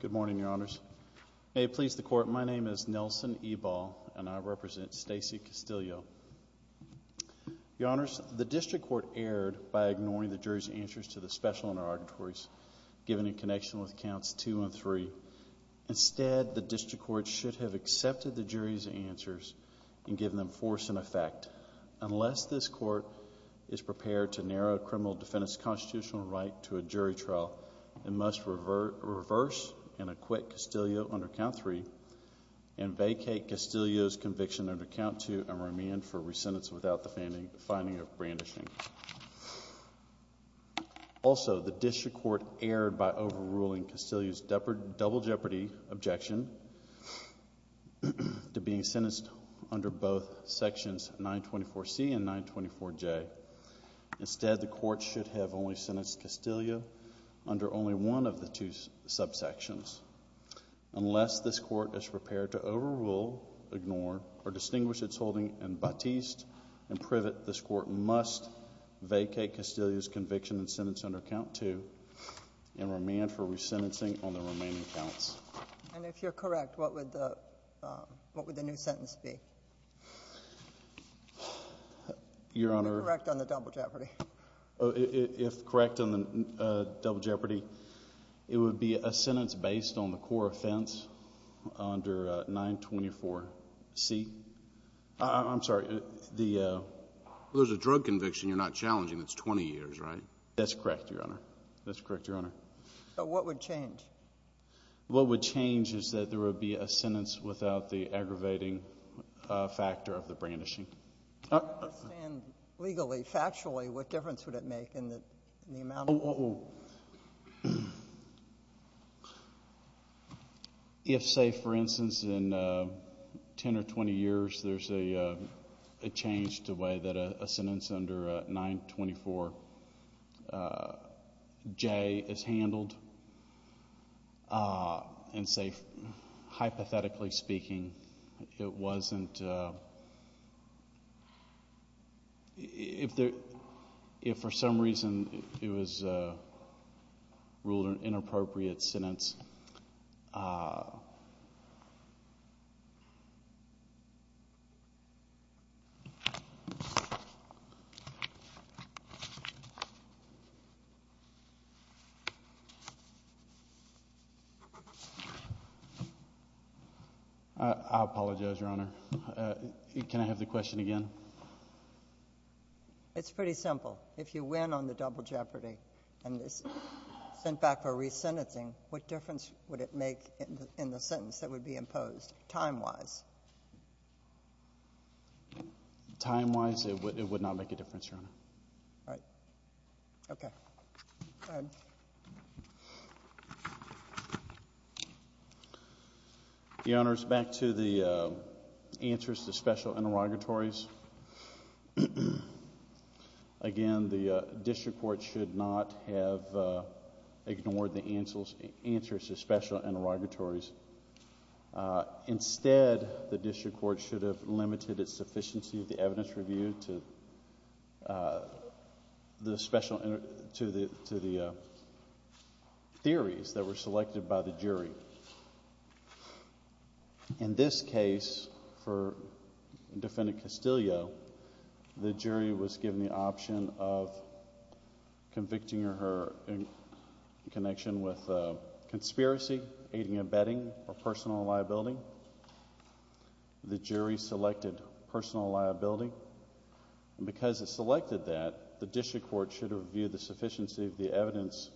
Good morning, Your Honors. May it please the Court, my name is Nelson Ebal and I represent Stacey Castillo. Your Honors, the District Court erred by ignoring the jury's answers to the special interrogatories given in connection with Counts 2 and 3. Instead, the District Court should have accepted the jury's answers and given them force and effect. Unless this is prepared to narrow a criminal defendant's constitutional right to a jury trial, it must reverse and acquit Castillo under Count 3 and vacate Castillo's conviction under Count 2 and remand for re-sentence without the finding of brandishing. Also, the District Court erred by overruling Castillo's double jeopardy objection to being sentenced under both Sections 924C and 924J. Instead, the Court should have only sentenced Castillo under only one of the two subsections. Unless this Court is prepared to overrule, ignore, or distinguish its holding in Batiste and Privet, this Court must vacate Castillo's conviction and sentence under Count 2 and remand for re-sentencing on the remaining counts. And if you're correct, what would the new sentence be? Your Honor. If you're correct on the double jeopardy. If correct on the double jeopardy, it would be a sentence based on the core offense under 924C. I'm sorry. There's a drug conviction you're not challenging that's 20 years, right? That's correct, Your Honor. That's correct, Your Honor. But what would change? What would change is that there would be a sentence without the aggravating factor of the brandishing. I don't understand legally. Factually, what difference would it make in the amount of time? If, say, for instance, in 10 or 20 years, there's a change to the way that a sentence under 924J is handled, and say, hypothetically speaking, it wasn't, if for some reason it was ruled an inappropriate sentence, I apologize, Your Honor. Can I have the question again? It's pretty simple. If you win on the double jeopardy and it's sent back for re-sentencing, what difference would it make in the sentence that would be imposed, time-wise? Time-wise, it would not make a difference, Your Honor. All right. Okay. Go ahead. Your Honors, back to the answers to special interrogatories. Again, the district court should not have ignored the answers to special interrogatories. Instead, the district court should have limited its sufficiency of the evidence review to the theories that were selected by the jury. In this case, for Defendant Castillo, the jury was given the option of convicting her in connection with a conspiracy, aiding and abetting, or personal liability. The jury selected personal liability. And because it selected that, the district court should have reviewed the sufficiency of the evidence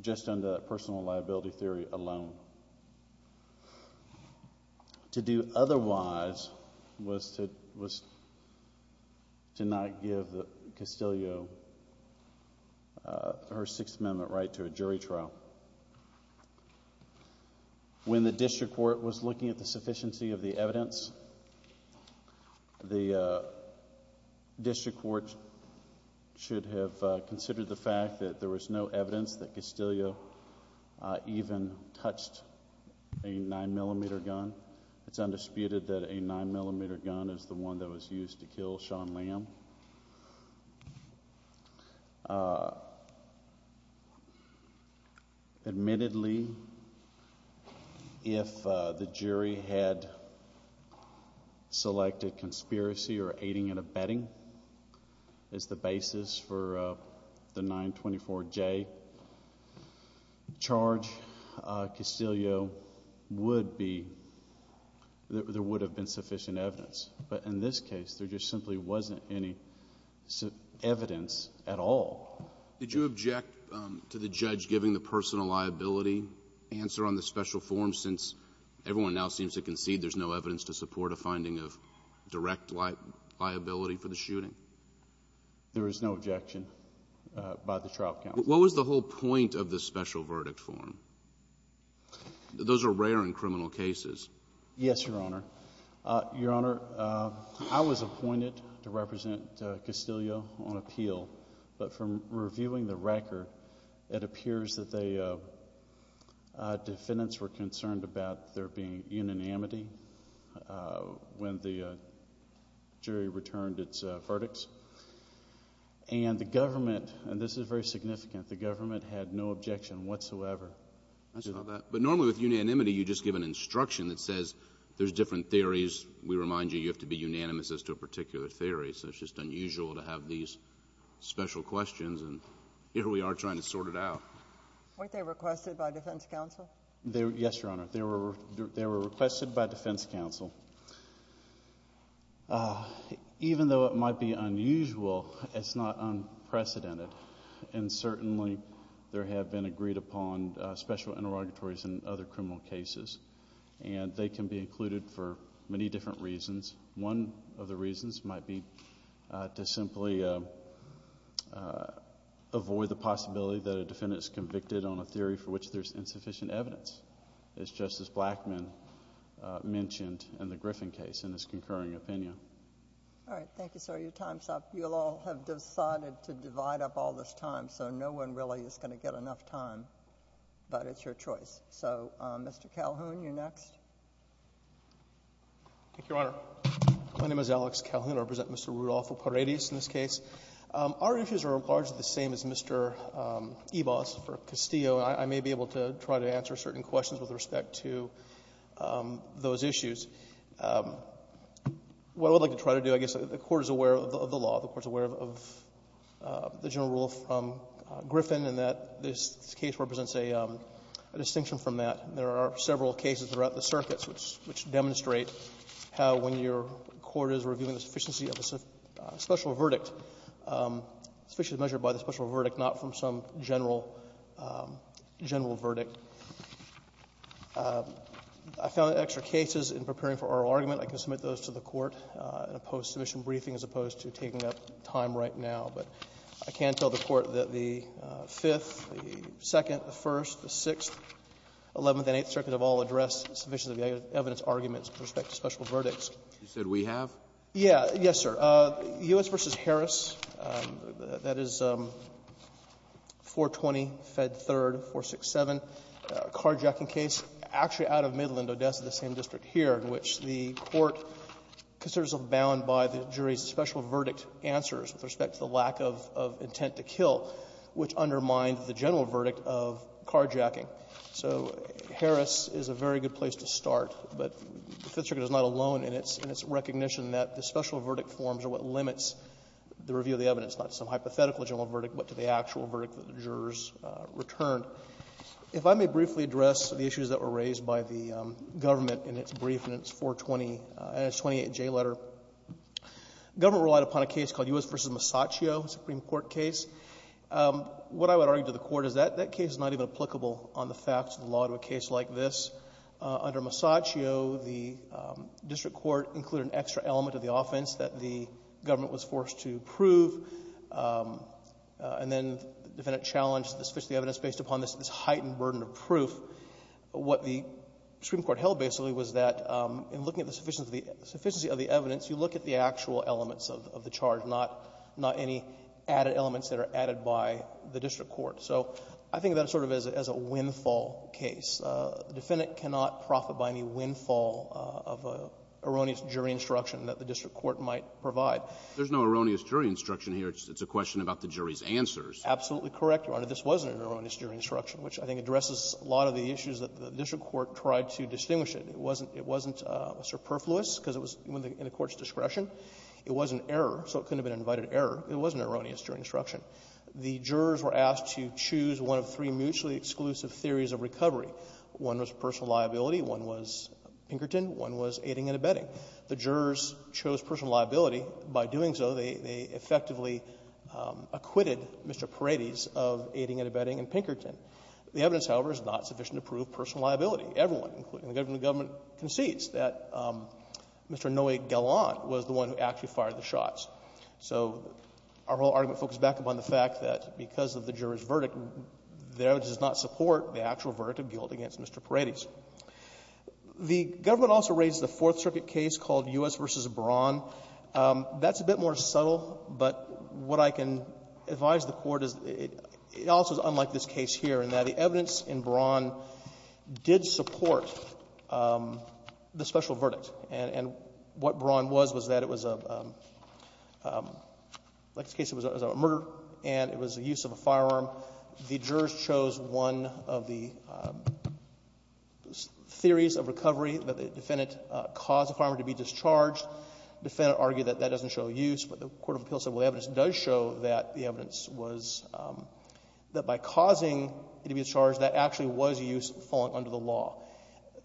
just on the personal liability theory alone. To do otherwise was to not give Castillo her Sixth Amendment right to a jury trial. When the district court was looking at the sufficiency of the evidence, the district court should have considered the fact that there was no evidence that Castillo even touched a 9mm gun. It's undisputed that a 9mm gun is the one that was used to kill Shawn Lamb. Admittedly, if the jury had selected conspiracy or aiding and abetting as the basis for the 924J, charge Castillo would be, there would have been sufficient evidence. But in this case, there just simply wasn't any evidence at all. Did you object to the judge giving the personal liability answer on the special form since everyone now seems to concede there's no evidence to support a finding of direct liability for the shooting? There is no objection by the trial counsel. What was the whole point of the special verdict form? Those are rare in criminal cases. Yes, Your Honor. Your Honor, I was appointed to represent Castillo on appeal. But from reviewing the record, it appears that the defendants were concerned about there being unanimity when the jury returned its verdicts. And the government, and this is very significant, the government had no objection whatsoever. But normally with unanimity, you just give an instruction that says there's different theories. We remind you, you have to be unanimous as to a particular theory. So it's just unusual to have these special questions and here we are trying to sort it out. Weren't they requested by defense counsel? Yes, Your Honor. They were requested by defense counsel. Even though it might be unusual, it's not unprecedented. And certainly there have been agreed upon special interrogatories in other criminal cases. And they can be included for many different reasons. One of the reasons might be to simply avoid the possibility that a defendant is convicted on a theory for which there's insufficient evidence. As Justice Blackmun mentioned in the Griffin case in his concurring opinion. All right. Thank you, sir. Your time's up. You'll all have decided to divide up all this time. So no one really is going to get enough time. But it's your choice. So, Mr. Calhoun, you're next. Thank you, Your Honor. My name is Alex Calhoun. I represent Mr. Rudolfo Paredes in this case. Our issues are largely the same as Mr. Ebas for Castillo. I may be able to try to answer certain questions with respect to those issues. What I would like to try to do, I guess, the Court is aware of the law. The Court is aware of the general rule from Griffin in that this case represents a distinction from that. There are several cases throughout the circuits which demonstrate how when your court is reviewing the sufficiency of a special verdict, it's measured by the special verdict, not from some general verdict. I found extra cases in preparing for oral argument. I can submit those to the Court in a post-submission briefing as opposed to taking up time right now. But I can tell the Court that the Fifth, the Second, the First, the Sixth, Eleventh, and Eighth Circuit have all addressed sufficiency of the evidence arguments with respect to special verdicts. You said we have? Yeah. Yes, sir. U.S. v. Harris, that is 420, Fed 3rd, 467, carjacking case, actually out of Midland, Odessa, the same district here, in which the Court considers abound by the jury's special verdict answers with respect to the lack of intent to kill, which undermined the general verdict of carjacking. So Harris is a very good place to start, but the Fifth Circuit is not alone in its recognition that the special verdict forms are what limits the review of the evidence, not some hypothetical general verdict, but to the actual verdict that the jurors returned. If I may briefly address the issues that were raised by the government in its brief in its 420 and its 28J letter. The government relied upon a case called U.S. v. Masaccio, a Supreme Court case. What I would argue to the Court is that that case is not even applicable on the facts of the law to a case like this. Under Masaccio, the district court included an extra element of the offense that the government was forced to prove, and then the defendant challenged the sufficient evidence based upon this heightened burden of proof. What the Supreme Court held basically was that in looking at the sufficiency of the evidence, you look at the actual elements of the charge, not any added elements that are added by the district court. So I think of that sort of as a windfall case. The defendant cannot profit by any windfall of an erroneous jury instruction that the district court might provide. There's no erroneous jury instruction here. It's a question about the jury's answers. Absolutely correct, Your Honor. This wasn't an erroneous jury instruction, which I think addresses a lot of the issues that the district court tried to distinguish it. It wasn't superfluous because it was in the court's discretion. It was an error, so it couldn't have been an invited error. It was an erroneous jury instruction. The jurors were asked to choose one of three mutually exclusive theories of recovery. One was personal liability. One was Pinkerton. One was aiding and abetting. The jurors chose personal liability. By doing so, they effectively acquitted Mr. Paredes of aiding and abetting and Pinkerton. The evidence, however, is not sufficient to prove personal liability. Everyone, including the government, concedes that Mr. Noe Galant was the one who actually fired the shots. So our whole argument focuses back upon the fact that because of the juror's verdict, the evidence does not support the actual verdict of guilt against Mr. Paredes. The government also raised the Fourth Circuit case called U.S. v. Braun. That's a bit more subtle, but what I can advise the Court is it also is unlike this case here in that the evidence in Braun did support the special verdict. And what Braun was was that it was a murder and it was the use of a firearm. The jurors chose one of the theories of recovery that the defendant caused the firearm to be discharged. The defendant argued that that doesn't show use, but the Court of Appeals said, well, the evidence does show that the evidence was that by causing it to be discharged, that actually was a use falling under the law.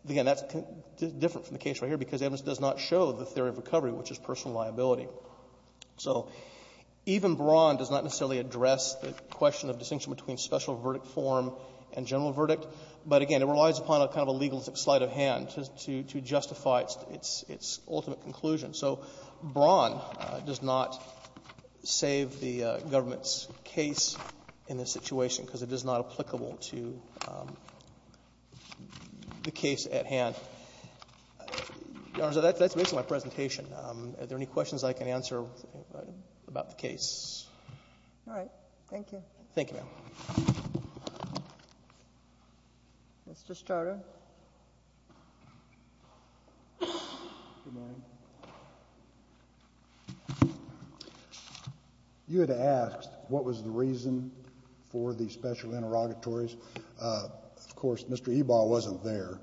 Again, that's different from the case right here because the evidence does not show the theory of recovery, which is personal liability. So even Braun does not necessarily address the question of distinction between special verdict form and general verdict. But again, it relies upon a kind of a legal slight of hand to justify its ultimate conclusion. So Braun does not save the government's case in this situation because it is not applicable to the case at hand. Your Honor, that's basically my presentation. Are there any questions I can answer about the case? All right. Thank you. Thank you, ma'am. Mr. Staudter. Good morning. You had asked what was the reason for the special interrogatories. Of course, Mr. Ebal wasn't there.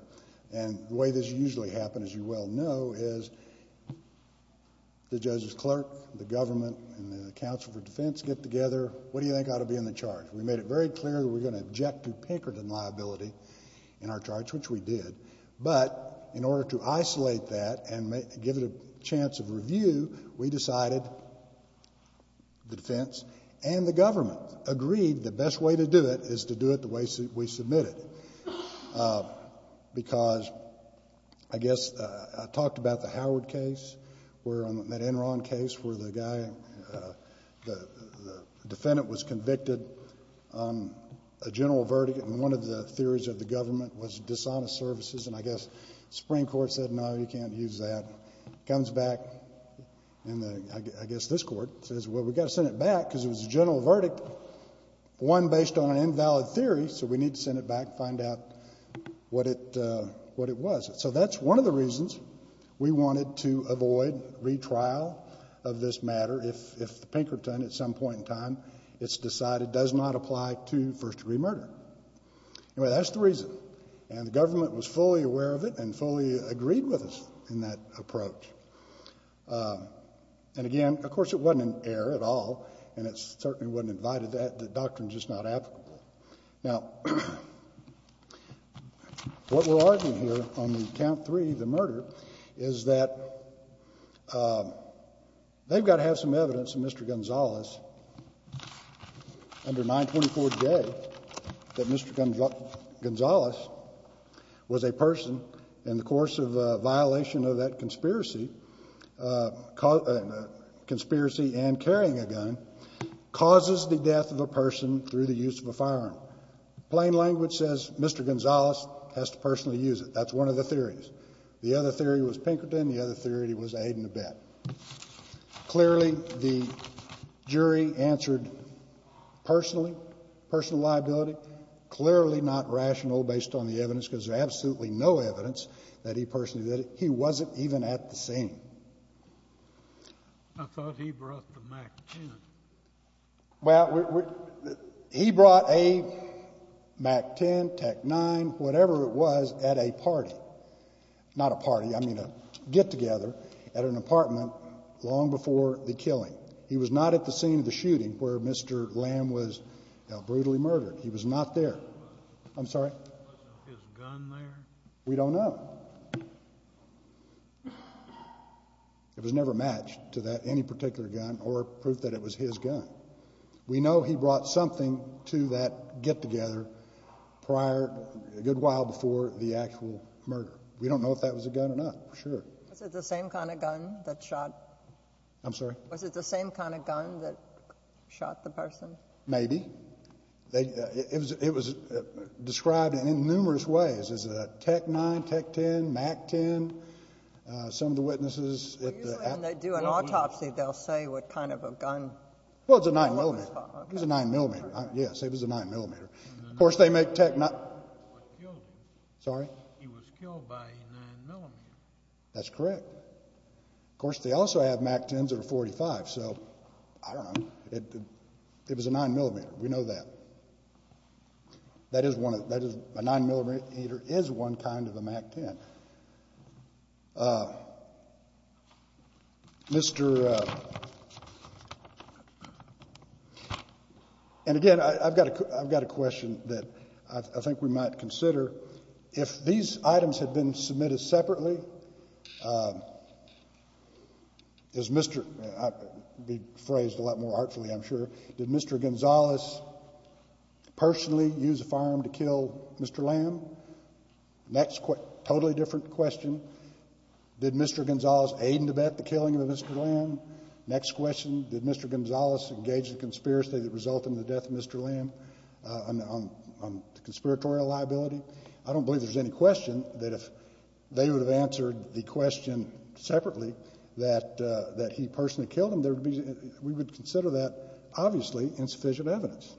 And the way this usually happens, as you well know, is the judge's clerk, the government, and the counsel for defense get together. What do you think ought to be in the charge? We made it very clear that we're going to object to Pinkerton liability in our charge, which we did. But in order to isolate that and give it a chance of review, we decided, the defense and the government agreed the best way to do it is to do it the way we submitted it. Because, I guess, I talked about the Howard case, that Enron case, where the guy, the defendant was convicted on a general verdict, and one of the theories of the government was dishonest services. And I guess the Supreme Court said, no, you can't use that. Comes back, and I guess this Court says, well, we've got to send it back because it was a general verdict, one based on an invalid theory, so we need to send it back and find out what it was. So that's one of the reasons we wanted to avoid retrial of this matter if Pinkerton, at some point in time, it's decided does not apply to first-degree murder. Anyway, that's the reason. And the government was fully aware of it and fully agreed with us in that approach. And again, of course, it wasn't in error at all, and it certainly wasn't invited, the doctrine's just not applicable. Now, what we're arguing here on the count three, the murder, is that they've got to have some evidence in Mr. Gonzales, under 924J, that Mr. Gonzales was a person in the course of a violation of that conspiracy and carrying a gun, causes the death of a person through the use of a firearm. Plain language says Mr. Gonzales has to personally use it. That's one of the theories. The other theory was Pinkerton, the other theory was Aiden Abet. Clearly, the jury answered personally, personal liability, but clearly not rational based on the evidence, because there's absolutely no evidence that he personally did it. He wasn't even at the scene. I thought he brought the Mac-10. Well, he brought a Mac-10, Tech-9, whatever it was, at a party. Not a party, I mean a get-together at an apartment long before the killing. He was not at the scene of the shooting where Mr. Lamb was brutally murdered. He was not there. I'm sorry? His gun there? We don't know. It was never matched to that any particular gun or proof that it was his gun. We know he brought something to that get-together prior, a good while before the actual murder. We don't know if that was a gun or not, for sure. Was it the same kind of gun that shot? I'm sorry? Was it the same kind of gun that shot the person? Maybe. It was described in numerous ways. Is it a Tech-9, Tech-10, Mac-10? Some of the witnesses... Usually when they do an autopsy, they'll say what kind of a gun... Well, it was a 9mm. It was a 9mm. Yes, it was a 9mm. He was killed by a 9mm. That's correct. Of course, they also have Mac-10s that are .45. So, I don't know. It was a 9mm. We know that. A 9mm is one kind of a Mac-10. And again, I've got a question that I think we might consider. If these items had been submitted separately, is Mr... It would be phrased a lot more artfully, I'm sure. Did Mr. Gonzales personally use a firearm to kill Mr. Lamb? Next question. Totally different question. Did Mr. Gonzales aid in the killing of Mr. Lamb? Next question. Did Mr. Gonzales engage in a conspiracy that resulted in the death of Mr. Lamb on the conspiratorial liability? I don't believe there's any question that if they would have answered that question, answered the question separately, that he personally killed him, we would consider that, obviously, insufficient evidence.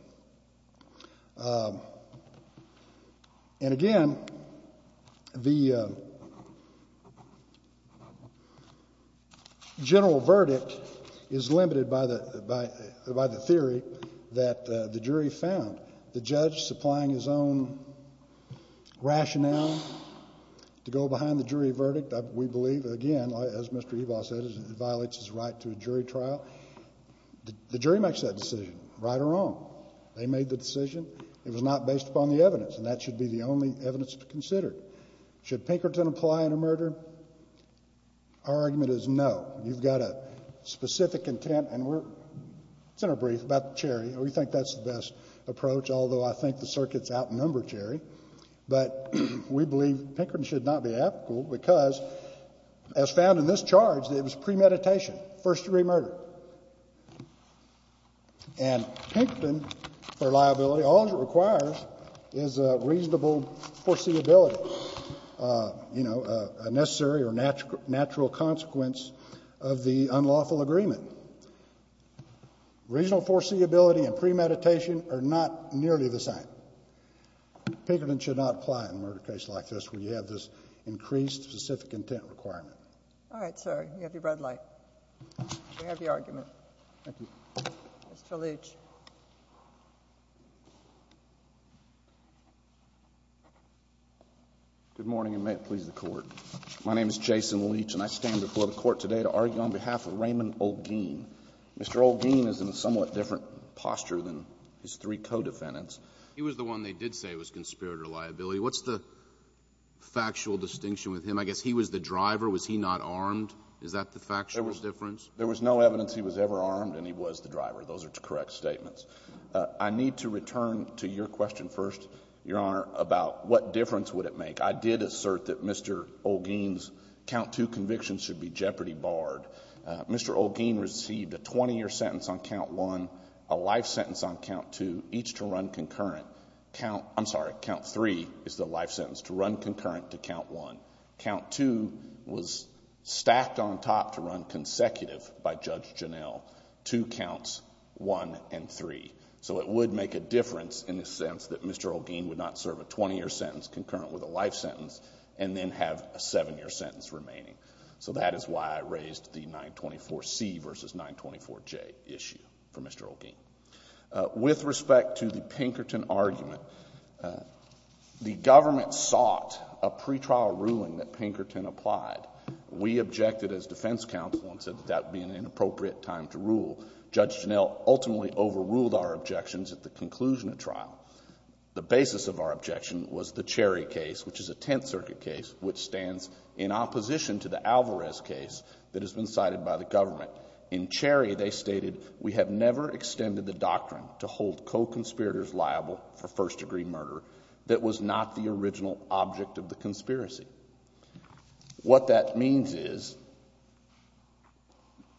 And again, the general verdict is limited by the theory that the jury found. The judge supplying his own rationale to go behind the jury verdict we believe, again, as Mr. Ebaugh said, it violates his right to a jury trial. The jury makes that decision, right or wrong. They made the decision. It was not based upon the evidence. And that should be the only evidence to be considered. Should Pinkerton apply in a murder? Our argument is no. You've got a specific intent and we're... It's in our brief about Cherry. We think that's the best approach, although I think the circuit's outnumbered Cherry. But we believe Pinkerton should not be applicable because as found in this charge, it was premeditation, first-degree murder. And Pinkerton, for liability, all it requires is a reasonable foreseeability, you know, a necessary or natural consequence of the unlawful agreement. Reasonable foreseeability and premeditation are not nearly the same. Pinkerton should not apply in a murder case like this when you have this increased specific intent requirement. All right, sir. You have your red light. You have your argument. Thank you. Mr. Leach. Good morning, and may it please the Court. My name is Jason Leach and I stand before the Court today to argue on behalf of Raymond Oldgeen. Mr. Oldgeen is in a somewhat different posture than his three co-defendants. He was the one they did say was conspirator liability. What's the factual distinction with him? I guess he was the driver. Was he not armed? Is that the factual difference? There was no evidence he was ever armed and he was the driver. Those are correct statements. I need to return to your question first, Your Honor, about what difference would it make. I did assert that Mr. Oldgeen's count two convictions should be jeopardy barred. Mr. Oldgeen received a 20-year sentence on count one, a life sentence on count two, each to run concurrent. I'm sorry, count three is the life sentence, to run concurrent to count one. Count two was stacked on top to run consecutive by Judge Janell. Two counts, one and three. So it would make a difference in the sense that Mr. Oldgeen would not serve a 20-year sentence concurrent with a life sentence and then have a seven-year sentence remaining. So that is why I raised the 924C versus 924J issue for Mr. Oldgeen. With respect to the Pinkerton argument, the government sought a pretrial ruling that Pinkerton applied. We objected as defense counsel and said that that would be an inappropriate time to rule. Judge Janell ultimately overruled our objections at the conclusion of trial. The basis of our objection was the Cherry case, which is a Tenth Circuit case, which stands in opposition to the Alvarez case that has been cited by the government. In Cherry, they stated, we have never extended the doctrine to hold co-conspirators liable for first-degree murder that was not the original object of the conspiracy. What that means is,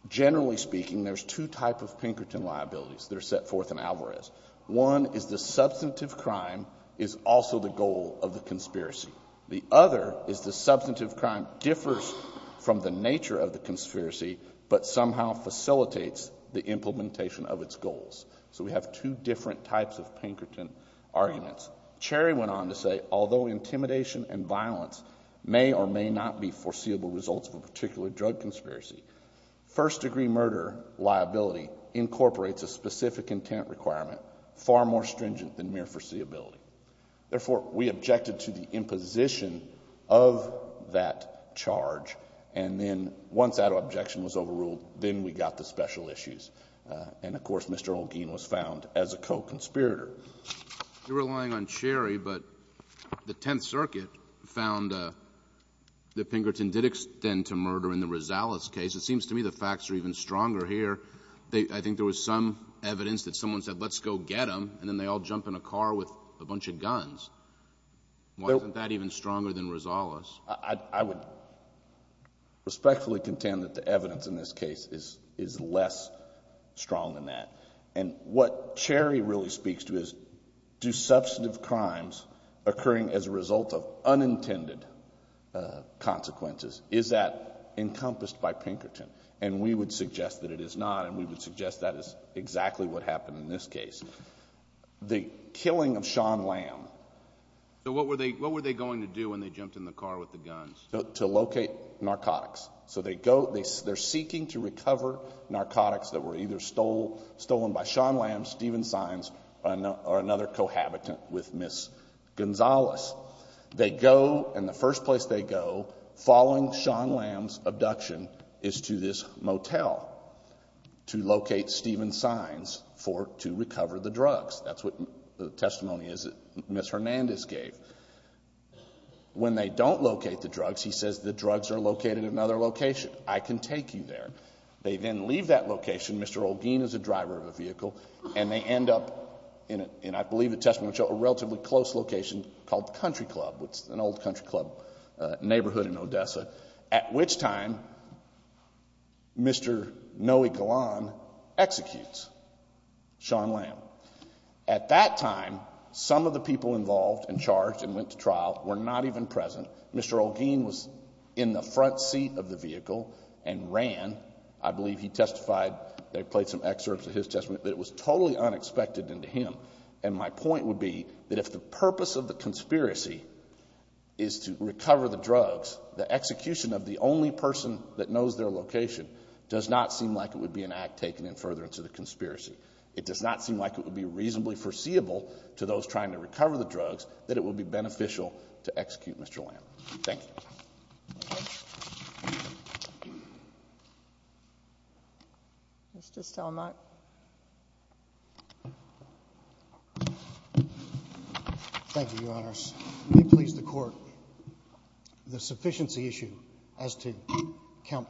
generally speaking, there's two types of Pinkerton liabilities that are set forth in Alvarez. One is the substantive crime is also the goal of the conspiracy. The other is the substantive crime differs from the nature of the conspiracy, but somehow facilitates the implementation of its goals. So we have two different types of Pinkerton arguments. Cherry went on to say, although intimidation and violence may or may not be foreseeable results of a particular drug conspiracy, first-degree murder liability incorporates a specific intent requirement, far more stringent than mere foreseeability. Therefore, we objected to the imposition of that charge, and then once that objection was overruled, then we got the special issues. And, of course, Mr. Holguin was found as a co-conspirator. You're relying on Cherry, but the Tenth Circuit found that Pinkerton did extend to murder in the Rosales case. It seems to me the facts are even stronger here. I think there was some evidence that someone said, let's go get him, and then they all jump in a car with a bunch of guns. Wasn't that even stronger than Rosales? I would respectfully contend that the evidence in this case is less strong than that. And what Cherry really speaks to is, do substantive crimes occurring as a result of unintended consequences, is that encompassed by Pinkerton? And we would suggest that it is not, and we would suggest that is exactly what happened in this case. The killing of Sean Lamb. So what were they going to do when they jumped in the car with the guns? To locate narcotics. So they're seeking to recover narcotics that were either stolen by Sean Lamb, Stephen Sines, or another cohabitant with Ms. Gonzalez. They go, and the first place they go, following Sean Lamb's abduction, is to this motel to locate Stephen Sines to recover the drugs. That's what the testimony is that Ms. Hernandez gave. When they don't locate the drugs, he says the drugs are located in another location. I can take you there. They then leave that location, Mr. Olguin is a driver of a vehicle, and they end up in, I believe, a relatively close location called Country Club. It's an old Country Club neighborhood in Odessa. At which time, Mr. Noe Galan executes Sean Lamb. At that time, some of the people involved and charged and went to trial were not even present. Mr. Olguin was in the front seat of the vehicle and ran. I believe he testified, they played some excerpts of his testimony, that it was totally unexpected and to him. And my point would be that if the purpose of the conspiracy is to recover the drugs, the execution of the only person that knows their location does not seem like it would be an act taken in further into the conspiracy. It does not seem like it would be reasonably foreseeable to those trying to recover the drugs that it would be beneficial to execute Mr. Lamb. Thank you. Mr. Stelmach. Thank you, Your Honors. May it please the Court. The sufficiency issue as to count,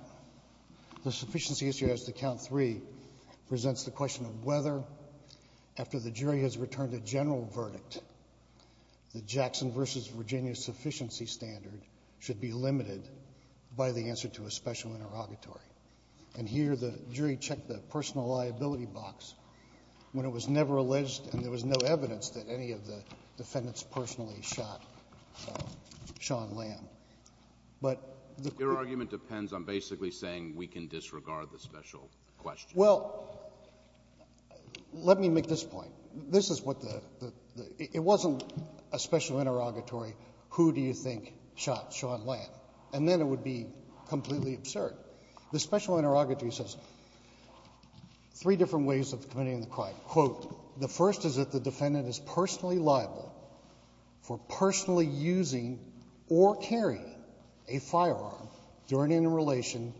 the sufficiency issue as to count three presents the question of whether, after the jury has returned a general verdict, the Jackson v. Virginia sufficiency standard should be limited by the answer to a special interrogatory. And here the jury checked the personal liability box when it was never alleged and there was no evidence that any of the defendants personally shot Sean Lamb. Your argument depends on basically saying we can disregard the special question. Well, let me make this point. This is what the, it wasn't a special interrogatory, who do you think shot Sean Lamb? And then it would be completely absurd. The special interrogatory says three different ways of committing the crime. Quote, the first is that the defendant is personally liable for personally using or carrying a firearm during interrelation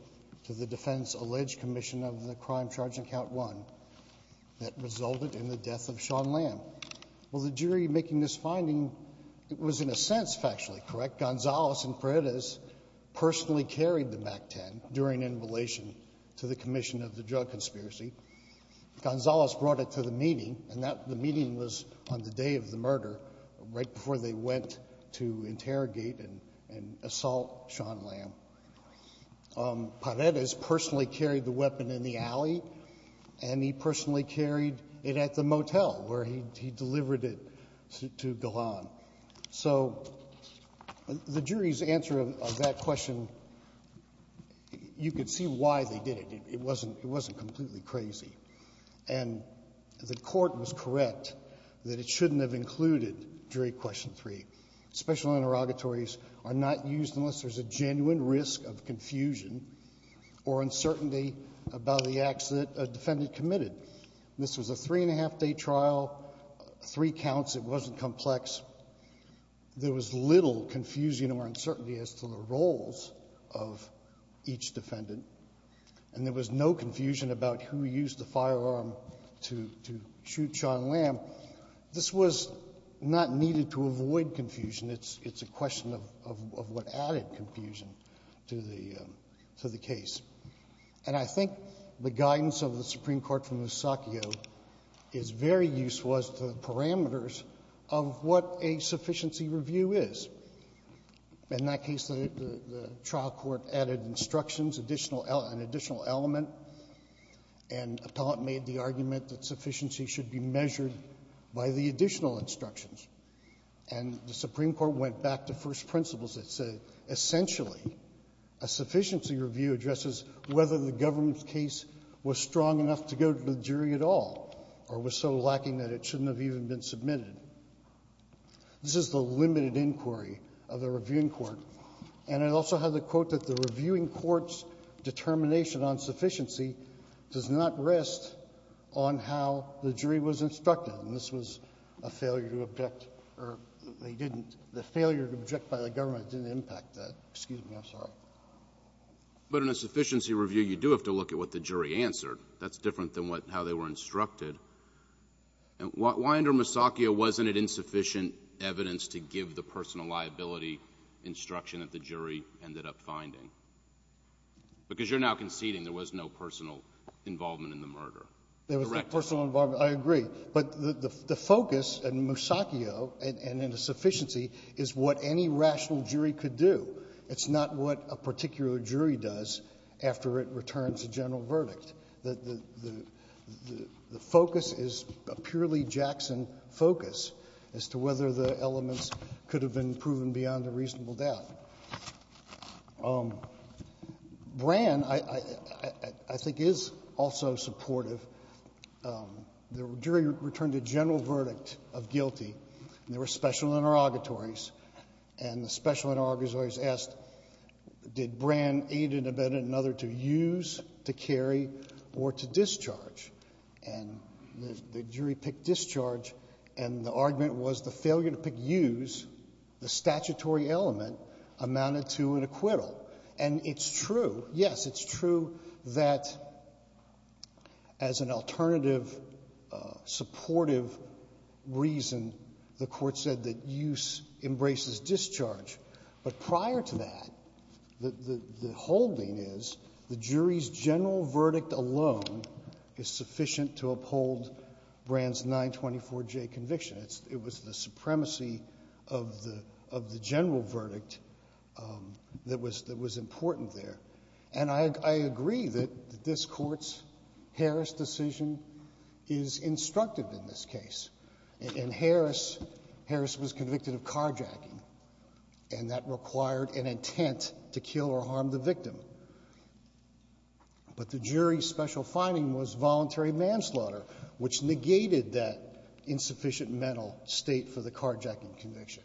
to the defendant's alleged commission of the crime charged in count one that resulted in the death of Sean Lamb. Well, the jury making this finding, it was in a sense factually correct. Gonzales and Paredes personally carried the MAC-10 during interrelation to the commission of the drug conspiracy. Gonzales brought it to the meeting and that, the meeting was on the day of the murder right before they went to interrogate and assault Sean Lamb. Paredes personally carried the weapon in the alley and he personally carried it at the motel where he delivered it to Golan. So the jury's answer of that question, you could see why they did it. It wasn't completely crazy. And the court was correct that it shouldn't have included jury question three. Special interrogatories are not used unless there's a genuine risk of confusion or uncertainty about the acts that a defendant committed. This was a three and a half day trial, three counts, it wasn't complex. There was little confusion or uncertainty as to the roles of each defendant and there was no confusion about who used the firearm to shoot Sean Lamb. This was not needed to avoid confusion. It's a question of what added confusion to the case. And I think the guidance of the Supreme Court from Eusakio is very useful as to the parameters of what a sufficiency review is. In that case, the trial court added instructions, an additional element, and appellant made the argument that sufficiency should be measured by the additional instructions. And the Supreme Court went back to first principles that said, essentially, a sufficiency review addresses whether the government's case was strong enough to go to the jury at all or was so lacking that it shouldn't have even been submitted. This is the limited inquiry of the reviewing court. And I also have the quote that the reviewing court's determination on sufficiency does not rest on how the jury was instructed. And this was a failure to object, or they didn't, the failure to object by the government didn't impact that. Excuse me, I'm sorry. But in a sufficiency review, you do have to look at what the jury answered. That's different than how they were instructed. Why under Eusakio wasn't it insufficient evidence to give the personal liability instruction that the jury ended up finding? Because you're now conceding there was no personal involvement in the murder. There was no personal involvement, I agree. But the focus in Eusakio and in a sufficiency is what any rational jury could do. It's not what a particular jury does after it returns a general verdict. The focus is a purely Jackson focus as to whether the elements could have been proven beyond a reasonable doubt. Brand, I think, is also supportive. The jury returned a general verdict of guilty. And there were special interrogatories. And the special interrogatories asked, did Brand aid in another to use, to carry, or to discharge? And the jury picked discharge. And the argument was the failure to pick use, the statutory element, amounted to an acquittal. And it's true, yes, it's true, that as an alternative, supportive reason, the Court said that use embraces discharge. But prior to that, the holding is the jury's general verdict alone is sufficient to uphold Brand's 924J conviction. It was the supremacy of the general verdict that was important there. And I agree that this Court's Harris decision is instructive in this case. And Harris was convicted of carjacking. And that required an intent to kill or harm the victim. But the jury's special finding was voluntary manslaughter, which negated that insufficient mental state for the carjacking conviction.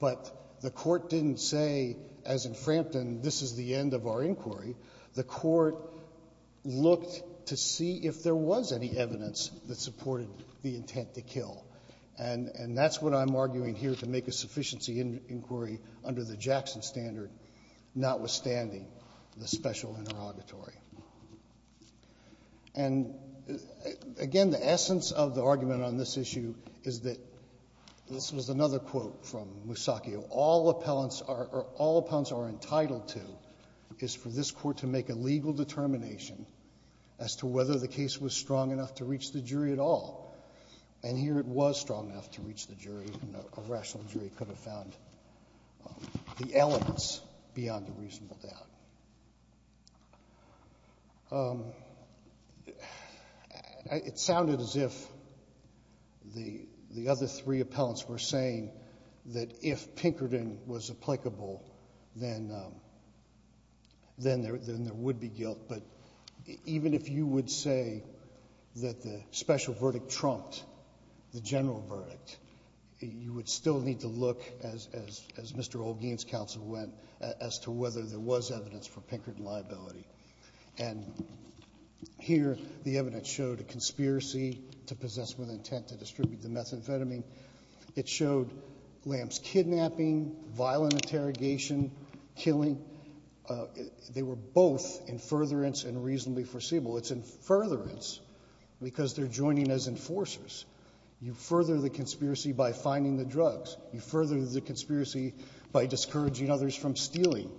But the Court didn't say, as in Frampton, this is the end of our inquiry. The Court looked to see if there was any evidence that supported the intent to kill. And that's what I'm arguing here to make a sufficiency inquiry under the Jackson standard, notwithstanding the special interrogatory. And, again, the essence of the argument on this issue is that, this was another quote, from Musacchio, all appellants are entitled to is for this Court to make a legal determination as to whether the case was strong enough to reach the jury at all. And here it was strong enough to reach the jury. A rational jury could have found the elements beyond a reasonable doubt. It sounded as if the other three appellants were saying that if Pinkerton was applicable, then there would be guilt. But even if you would say that the special verdict trumped the general verdict, you would still need to look, as Mr. Olguin's counsel went, as to whether there was evidence for Pinkerton liability. And here the evidence showed a conspiracy to possess with intent to distribute the methamphetamine. It showed Lam's kidnapping, violent interrogation, killing. They were both in furtherance and reasonably foreseeable. It's in furtherance because they're joining as enforcers. You further the conspiracy by finding the drugs. You further the conspiracy by discouraging others from stealing.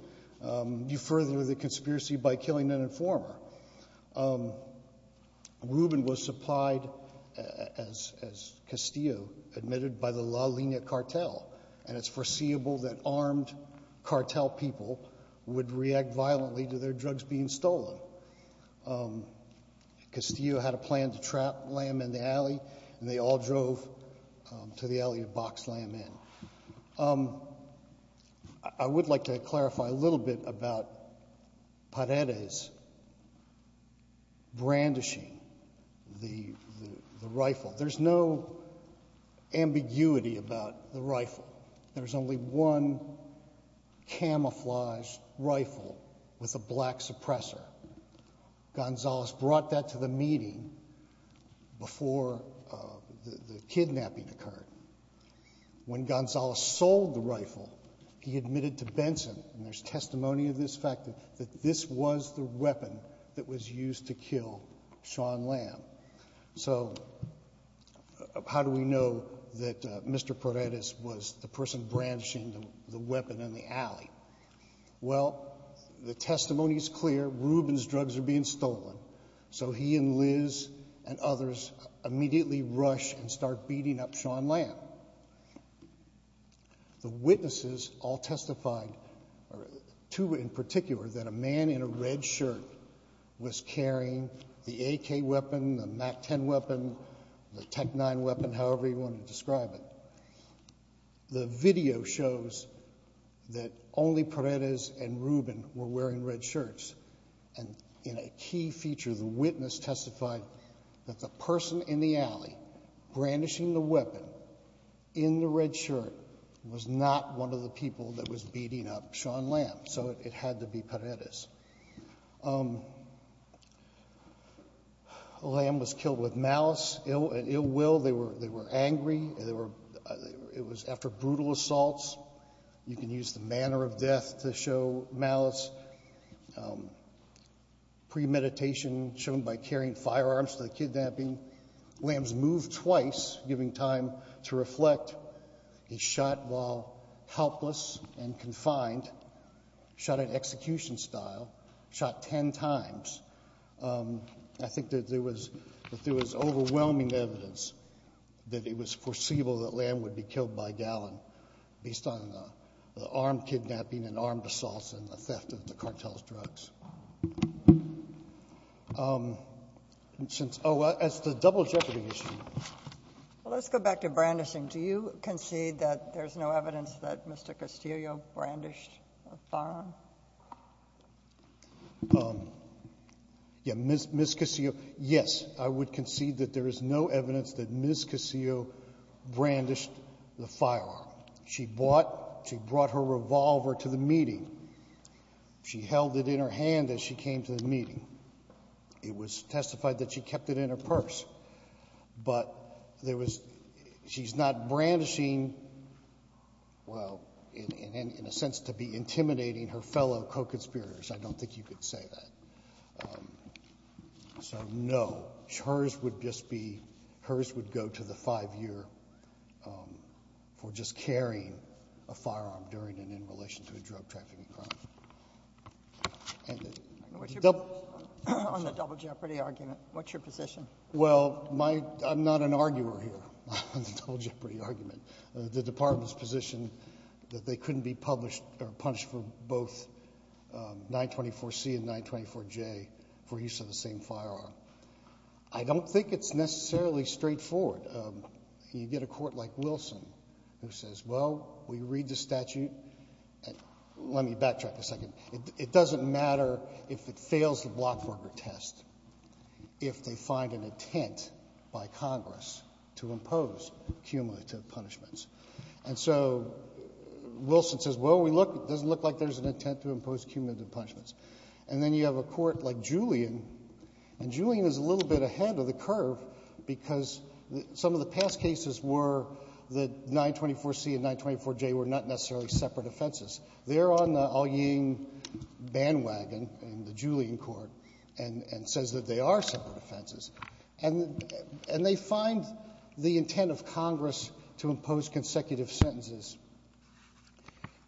You further the conspiracy by killing an informer. Rubin was supplied as Castillo, admitted by the La Lina cartel. And it's foreseeable that armed cartel people would react violently to their drugs being stolen. Castillo had a plan to trap Lam in the alley, and they all drove to the alley to box Lam in. I would like to clarify a little bit about Paredes brandishing the rifle. There's no ambiguity about the rifle. There's only one camouflage rifle with a black suppressor. Gonzales brought that to the meeting before the kidnapping occurred. When Gonzales sold the rifle, he admitted to Benson, and there's testimony of this fact, that this was the weapon that was used to kill Sean Lam. So how do we know that Mr. Paredes was the person branching the weapon in the alley? Well, the testimony is clear. Rubin's drugs are being stolen. So he and Liz and others immediately rush and start beating up Sean Lam. The witnesses all testified, two in particular, that a man in a red shirt was carrying the AK weapon, the MAC-10 weapon, the TEC-9 weapon, however you want to describe it. The video shows that only Paredes and Rubin were wearing red shirts. And in a key feature, the witness testified that the person in the alley brandishing the weapon in the red shirt was not one of the people that was beating up Sean Lam. So it had to be Paredes. Lam was killed with malice, ill will. They were angry. It was after brutal assaults. You can use the manner of death to show malice. Premeditation, shown by carrying firearms to the kidnapping. Lam's moved twice, giving time to reflect a shot while helpless and confined, shot in execution style. Shot 10 times. I think that there was overwhelming evidence that it was foreseeable that Lam would be killed by Gallin based on the armed kidnapping and armed assaults and the theft of the cartel's drugs. Oh, as to the double jeopardy issue. Let's go back to brandishing. Do you concede that there's no evidence that Mr. Castillo brandished a firearm? Um, yeah, Ms. Castillo, yes, I would concede that there is no evidence that Ms. Castillo brandished the firearm. She brought her revolver to the meeting. She held it in her hand as she came to the meeting. It was testified that she kept it in her purse. But she's not brandishing, well, in a sense, to be intimidating her fellow co-conspirators. I don't think you could say that. So, no. Hers would just be, hers would go to the five-year for just carrying a firearm during and in relation to a drug trafficking crime. On the double jeopardy argument, what's your position? Well, I'm not an arguer here on the double jeopardy argument. The department's position that they couldn't be published or punished for both 924C and 924J for use of the same firearm. I don't think it's necessarily straightforward. You get a court like Wilson who says, well, we read the statute. Let me backtrack a second. It doesn't matter if it fails the blockburger test if they find an intent by Congress to impose cumulative punishments. And so, Wilson says, well, it doesn't look like there's an intent to impose cumulative punishments. And then you have a court like Julian, and Julian is a little bit ahead of the curve because some of the past cases were that 924C and 924J were not necessarily separate offenses. They're on the allying bandwagon in the Julian court and says that they are separate offenses. And they find the intent of Congress to impose consecutive sentences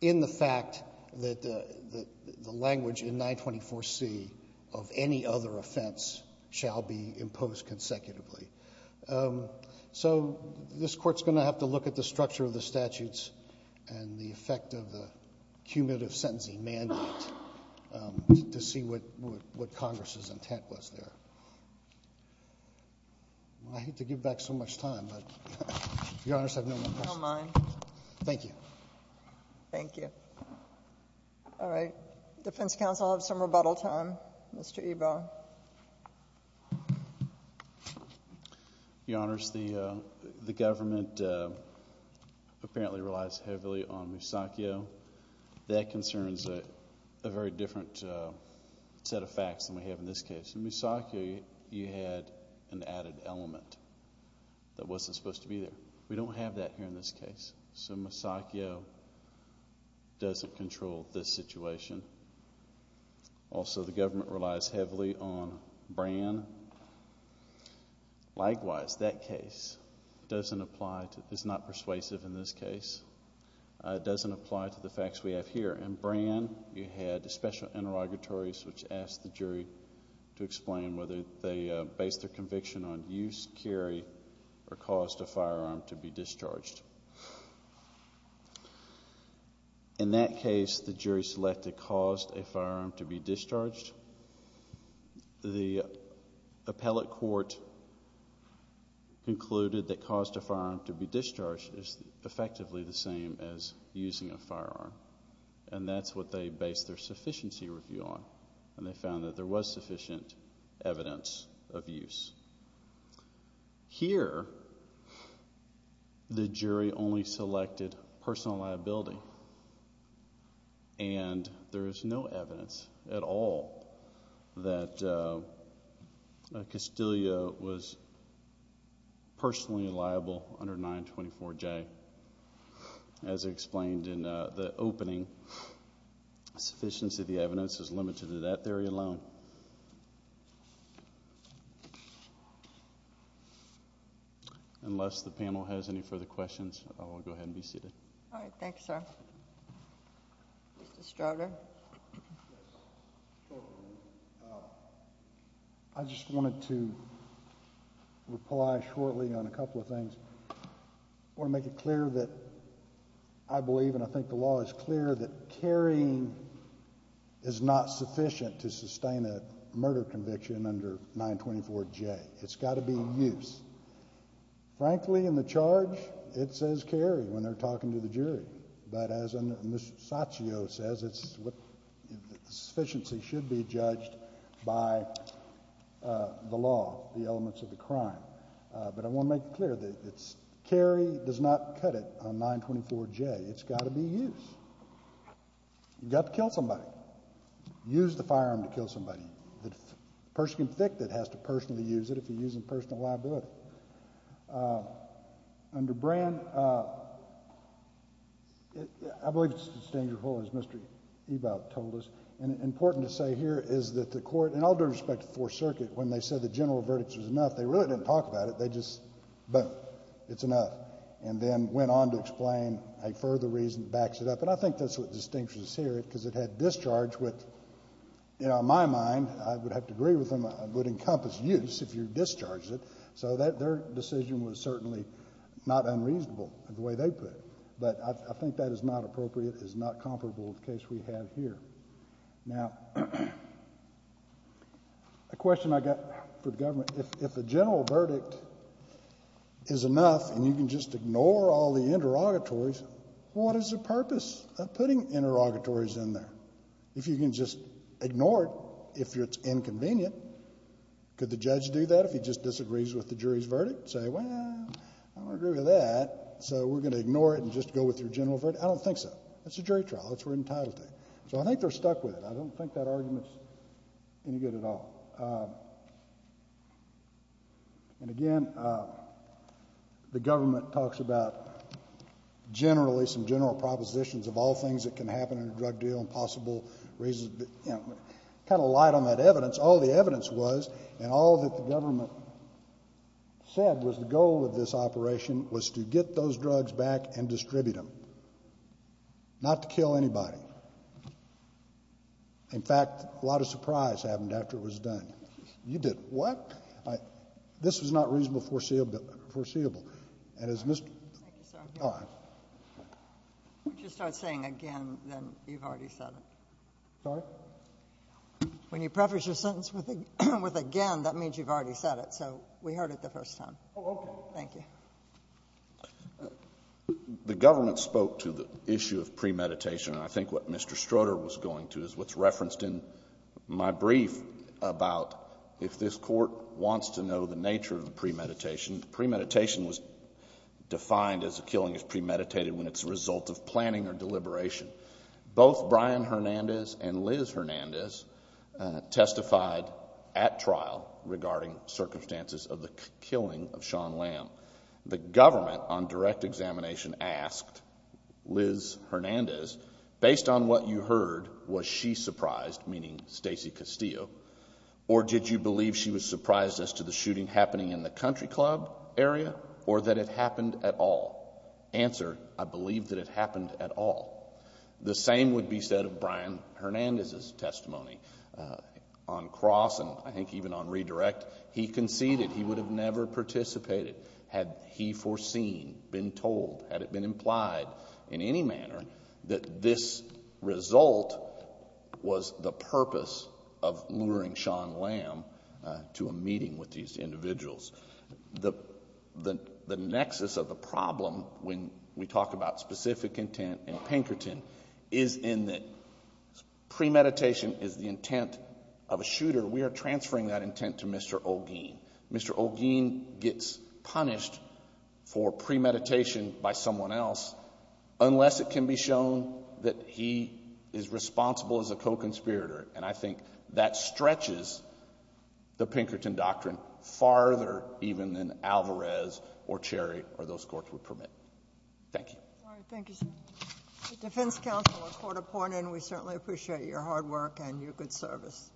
in the fact that the language in 924C of any other offense shall be imposed consecutively. So, this court's going to have to look at the structure of the statutes and the effect of the cumulative sentencing mandate to see what Congress's intent was there. I hate to give back so much time, but, Your Honor, I have no more questions. Thank you. Thank you. All right. Defense Counsel, I'll have some rebuttal time. Mr. Ebaugh. Your Honors, the government apparently relies heavily on Musacchio. That concerns a very different set of facts than we have in this case. In Musacchio, you had an added element that wasn't supposed to be there. We don't have that here in this case. So, Musacchio doesn't control this situation. Also, the government relies heavily on Bran. Likewise, that case doesn't apply to, it's not persuasive in this case. It doesn't apply to the facts we have here. In Bran, you had special interrogatories which asked the jury to explain whether they based their conviction on use, carry, or caused a firearm to be discharged. In that case, the jury selected caused a firearm to be discharged. The appellate court concluded that caused a firearm to be discharged is effectively the same as using a firearm. And that's what they based their sufficiency review on. And they found that there was sufficient evidence of use. Here, the jury only selected personal liability. And there is no evidence at all that Castillo was personally liable under 924J. As I explained in the opening, sufficiency of the evidence is limited to that theory alone. Unless the panel has any further questions, I will go ahead and be seated. All right. Thanks, sir. Mr. Stroder. I just wanted to reply shortly on a couple of things. I want to make it clear that I believe is clear that carrying is not sufficient to sustain a murder conviction under 924J. It's got to be use. Frankly, in the charge, it says carry when they're talking to the jury. But as Mr. Castillo says, it's what sufficiency should be judged by the law, the elements of the crime. But I want to make it clear that it's carry does not cut it on 924J. It's got to be use. You've got to kill somebody. Use the firearm to kill somebody. The person convicted has to personally use it if he's using personal liability. Under brand, I believe it's just as dangerous as Mr. Ebout told us. And important to say here is that the court, in all due respect to Fourth Circuit, when they said the general verdict was enough, they really didn't talk about it. They just, boom, it's enough. And then went on to explain a further reason that backs it up. And I think that's what distinguishes here because it had discharge with, you know, in my mind, I would have to agree with them, it would encompass use if you discharged it. So their decision was certainly not unreasonable the way they put it. But I think that is not appropriate, is not comparable with the case we have here. Now, a question I got for the government, if the general verdict is enough and you can just ignore all the interrogatories, what is the purpose of putting interrogatories in there? If you can just ignore it if it's inconvenient, could the judge do that if he just disagrees with the jury's verdict? Say, well, I don't agree with that, so we're going to ignore it and just go with your general verdict? I don't think so. That's a jury trial, that's where you're entitled to. So I think they're stuck with it. I don't think that argument is any good at all. And again, the government talks about generally, some general propositions of all things that can happen in a drug deal and possible reasons. Kind of light on that evidence. All the evidence was, and all that the government said was the goal of this operation was to get those drugs back and distribute them. Not to kill anybody. In fact, a lot of surprise happened after it was done. You did what? This was not reasonable foreseeable. And as Mr. Thank you, sir. Would you start saying again, then you've already said it. Sorry? When you preface your sentence with again, that means you've already said it, so we heard it the first time. Oh, okay. Thank you. The government spoke to the issue of premeditation. I think what Mr. Stroder was going to is what's referenced in my brief about if this court wants to know the nature of the premeditation. Premeditation was defined as a killing is premeditated when it's a result of planning or deliberation. Both Brian Hernandez and Liz Hernandez testified at trial regarding circumstances of the killing of John Lamb. The government on direct examination asked Liz Hernandez, based on what you heard, was she surprised, meaning Stacy Castillo, or did you believe she was surprised as to the shooting happening in the country club area, or that it happened at all? Answer, I believe that it happened at all. The same would be said of Brian Hernandez's testimony. On cross and I think even on redirect, he conceded he would have never participated had he foreseen, been told, had it been implied in any manner that this result was the purpose of luring John Lamb to a meeting we talk about specific intent and Pinkerton is in that premeditation is the intention of the premeditation is the intention of the premeditation of the shooter. We are transferring that intent to Mr. O'Geene. Mr. O'Geene gets punished for premeditation by someone else unless it can be shown that he is responsible as a co-conspirator and I think that stretches the Pinkerton doctrine farther even than Alvarez or Cherry or those courts would permit. Thank you. All right. Thank you, sir. Defense counsel, a court appointed and we certainly appreciate your hard work and your good service.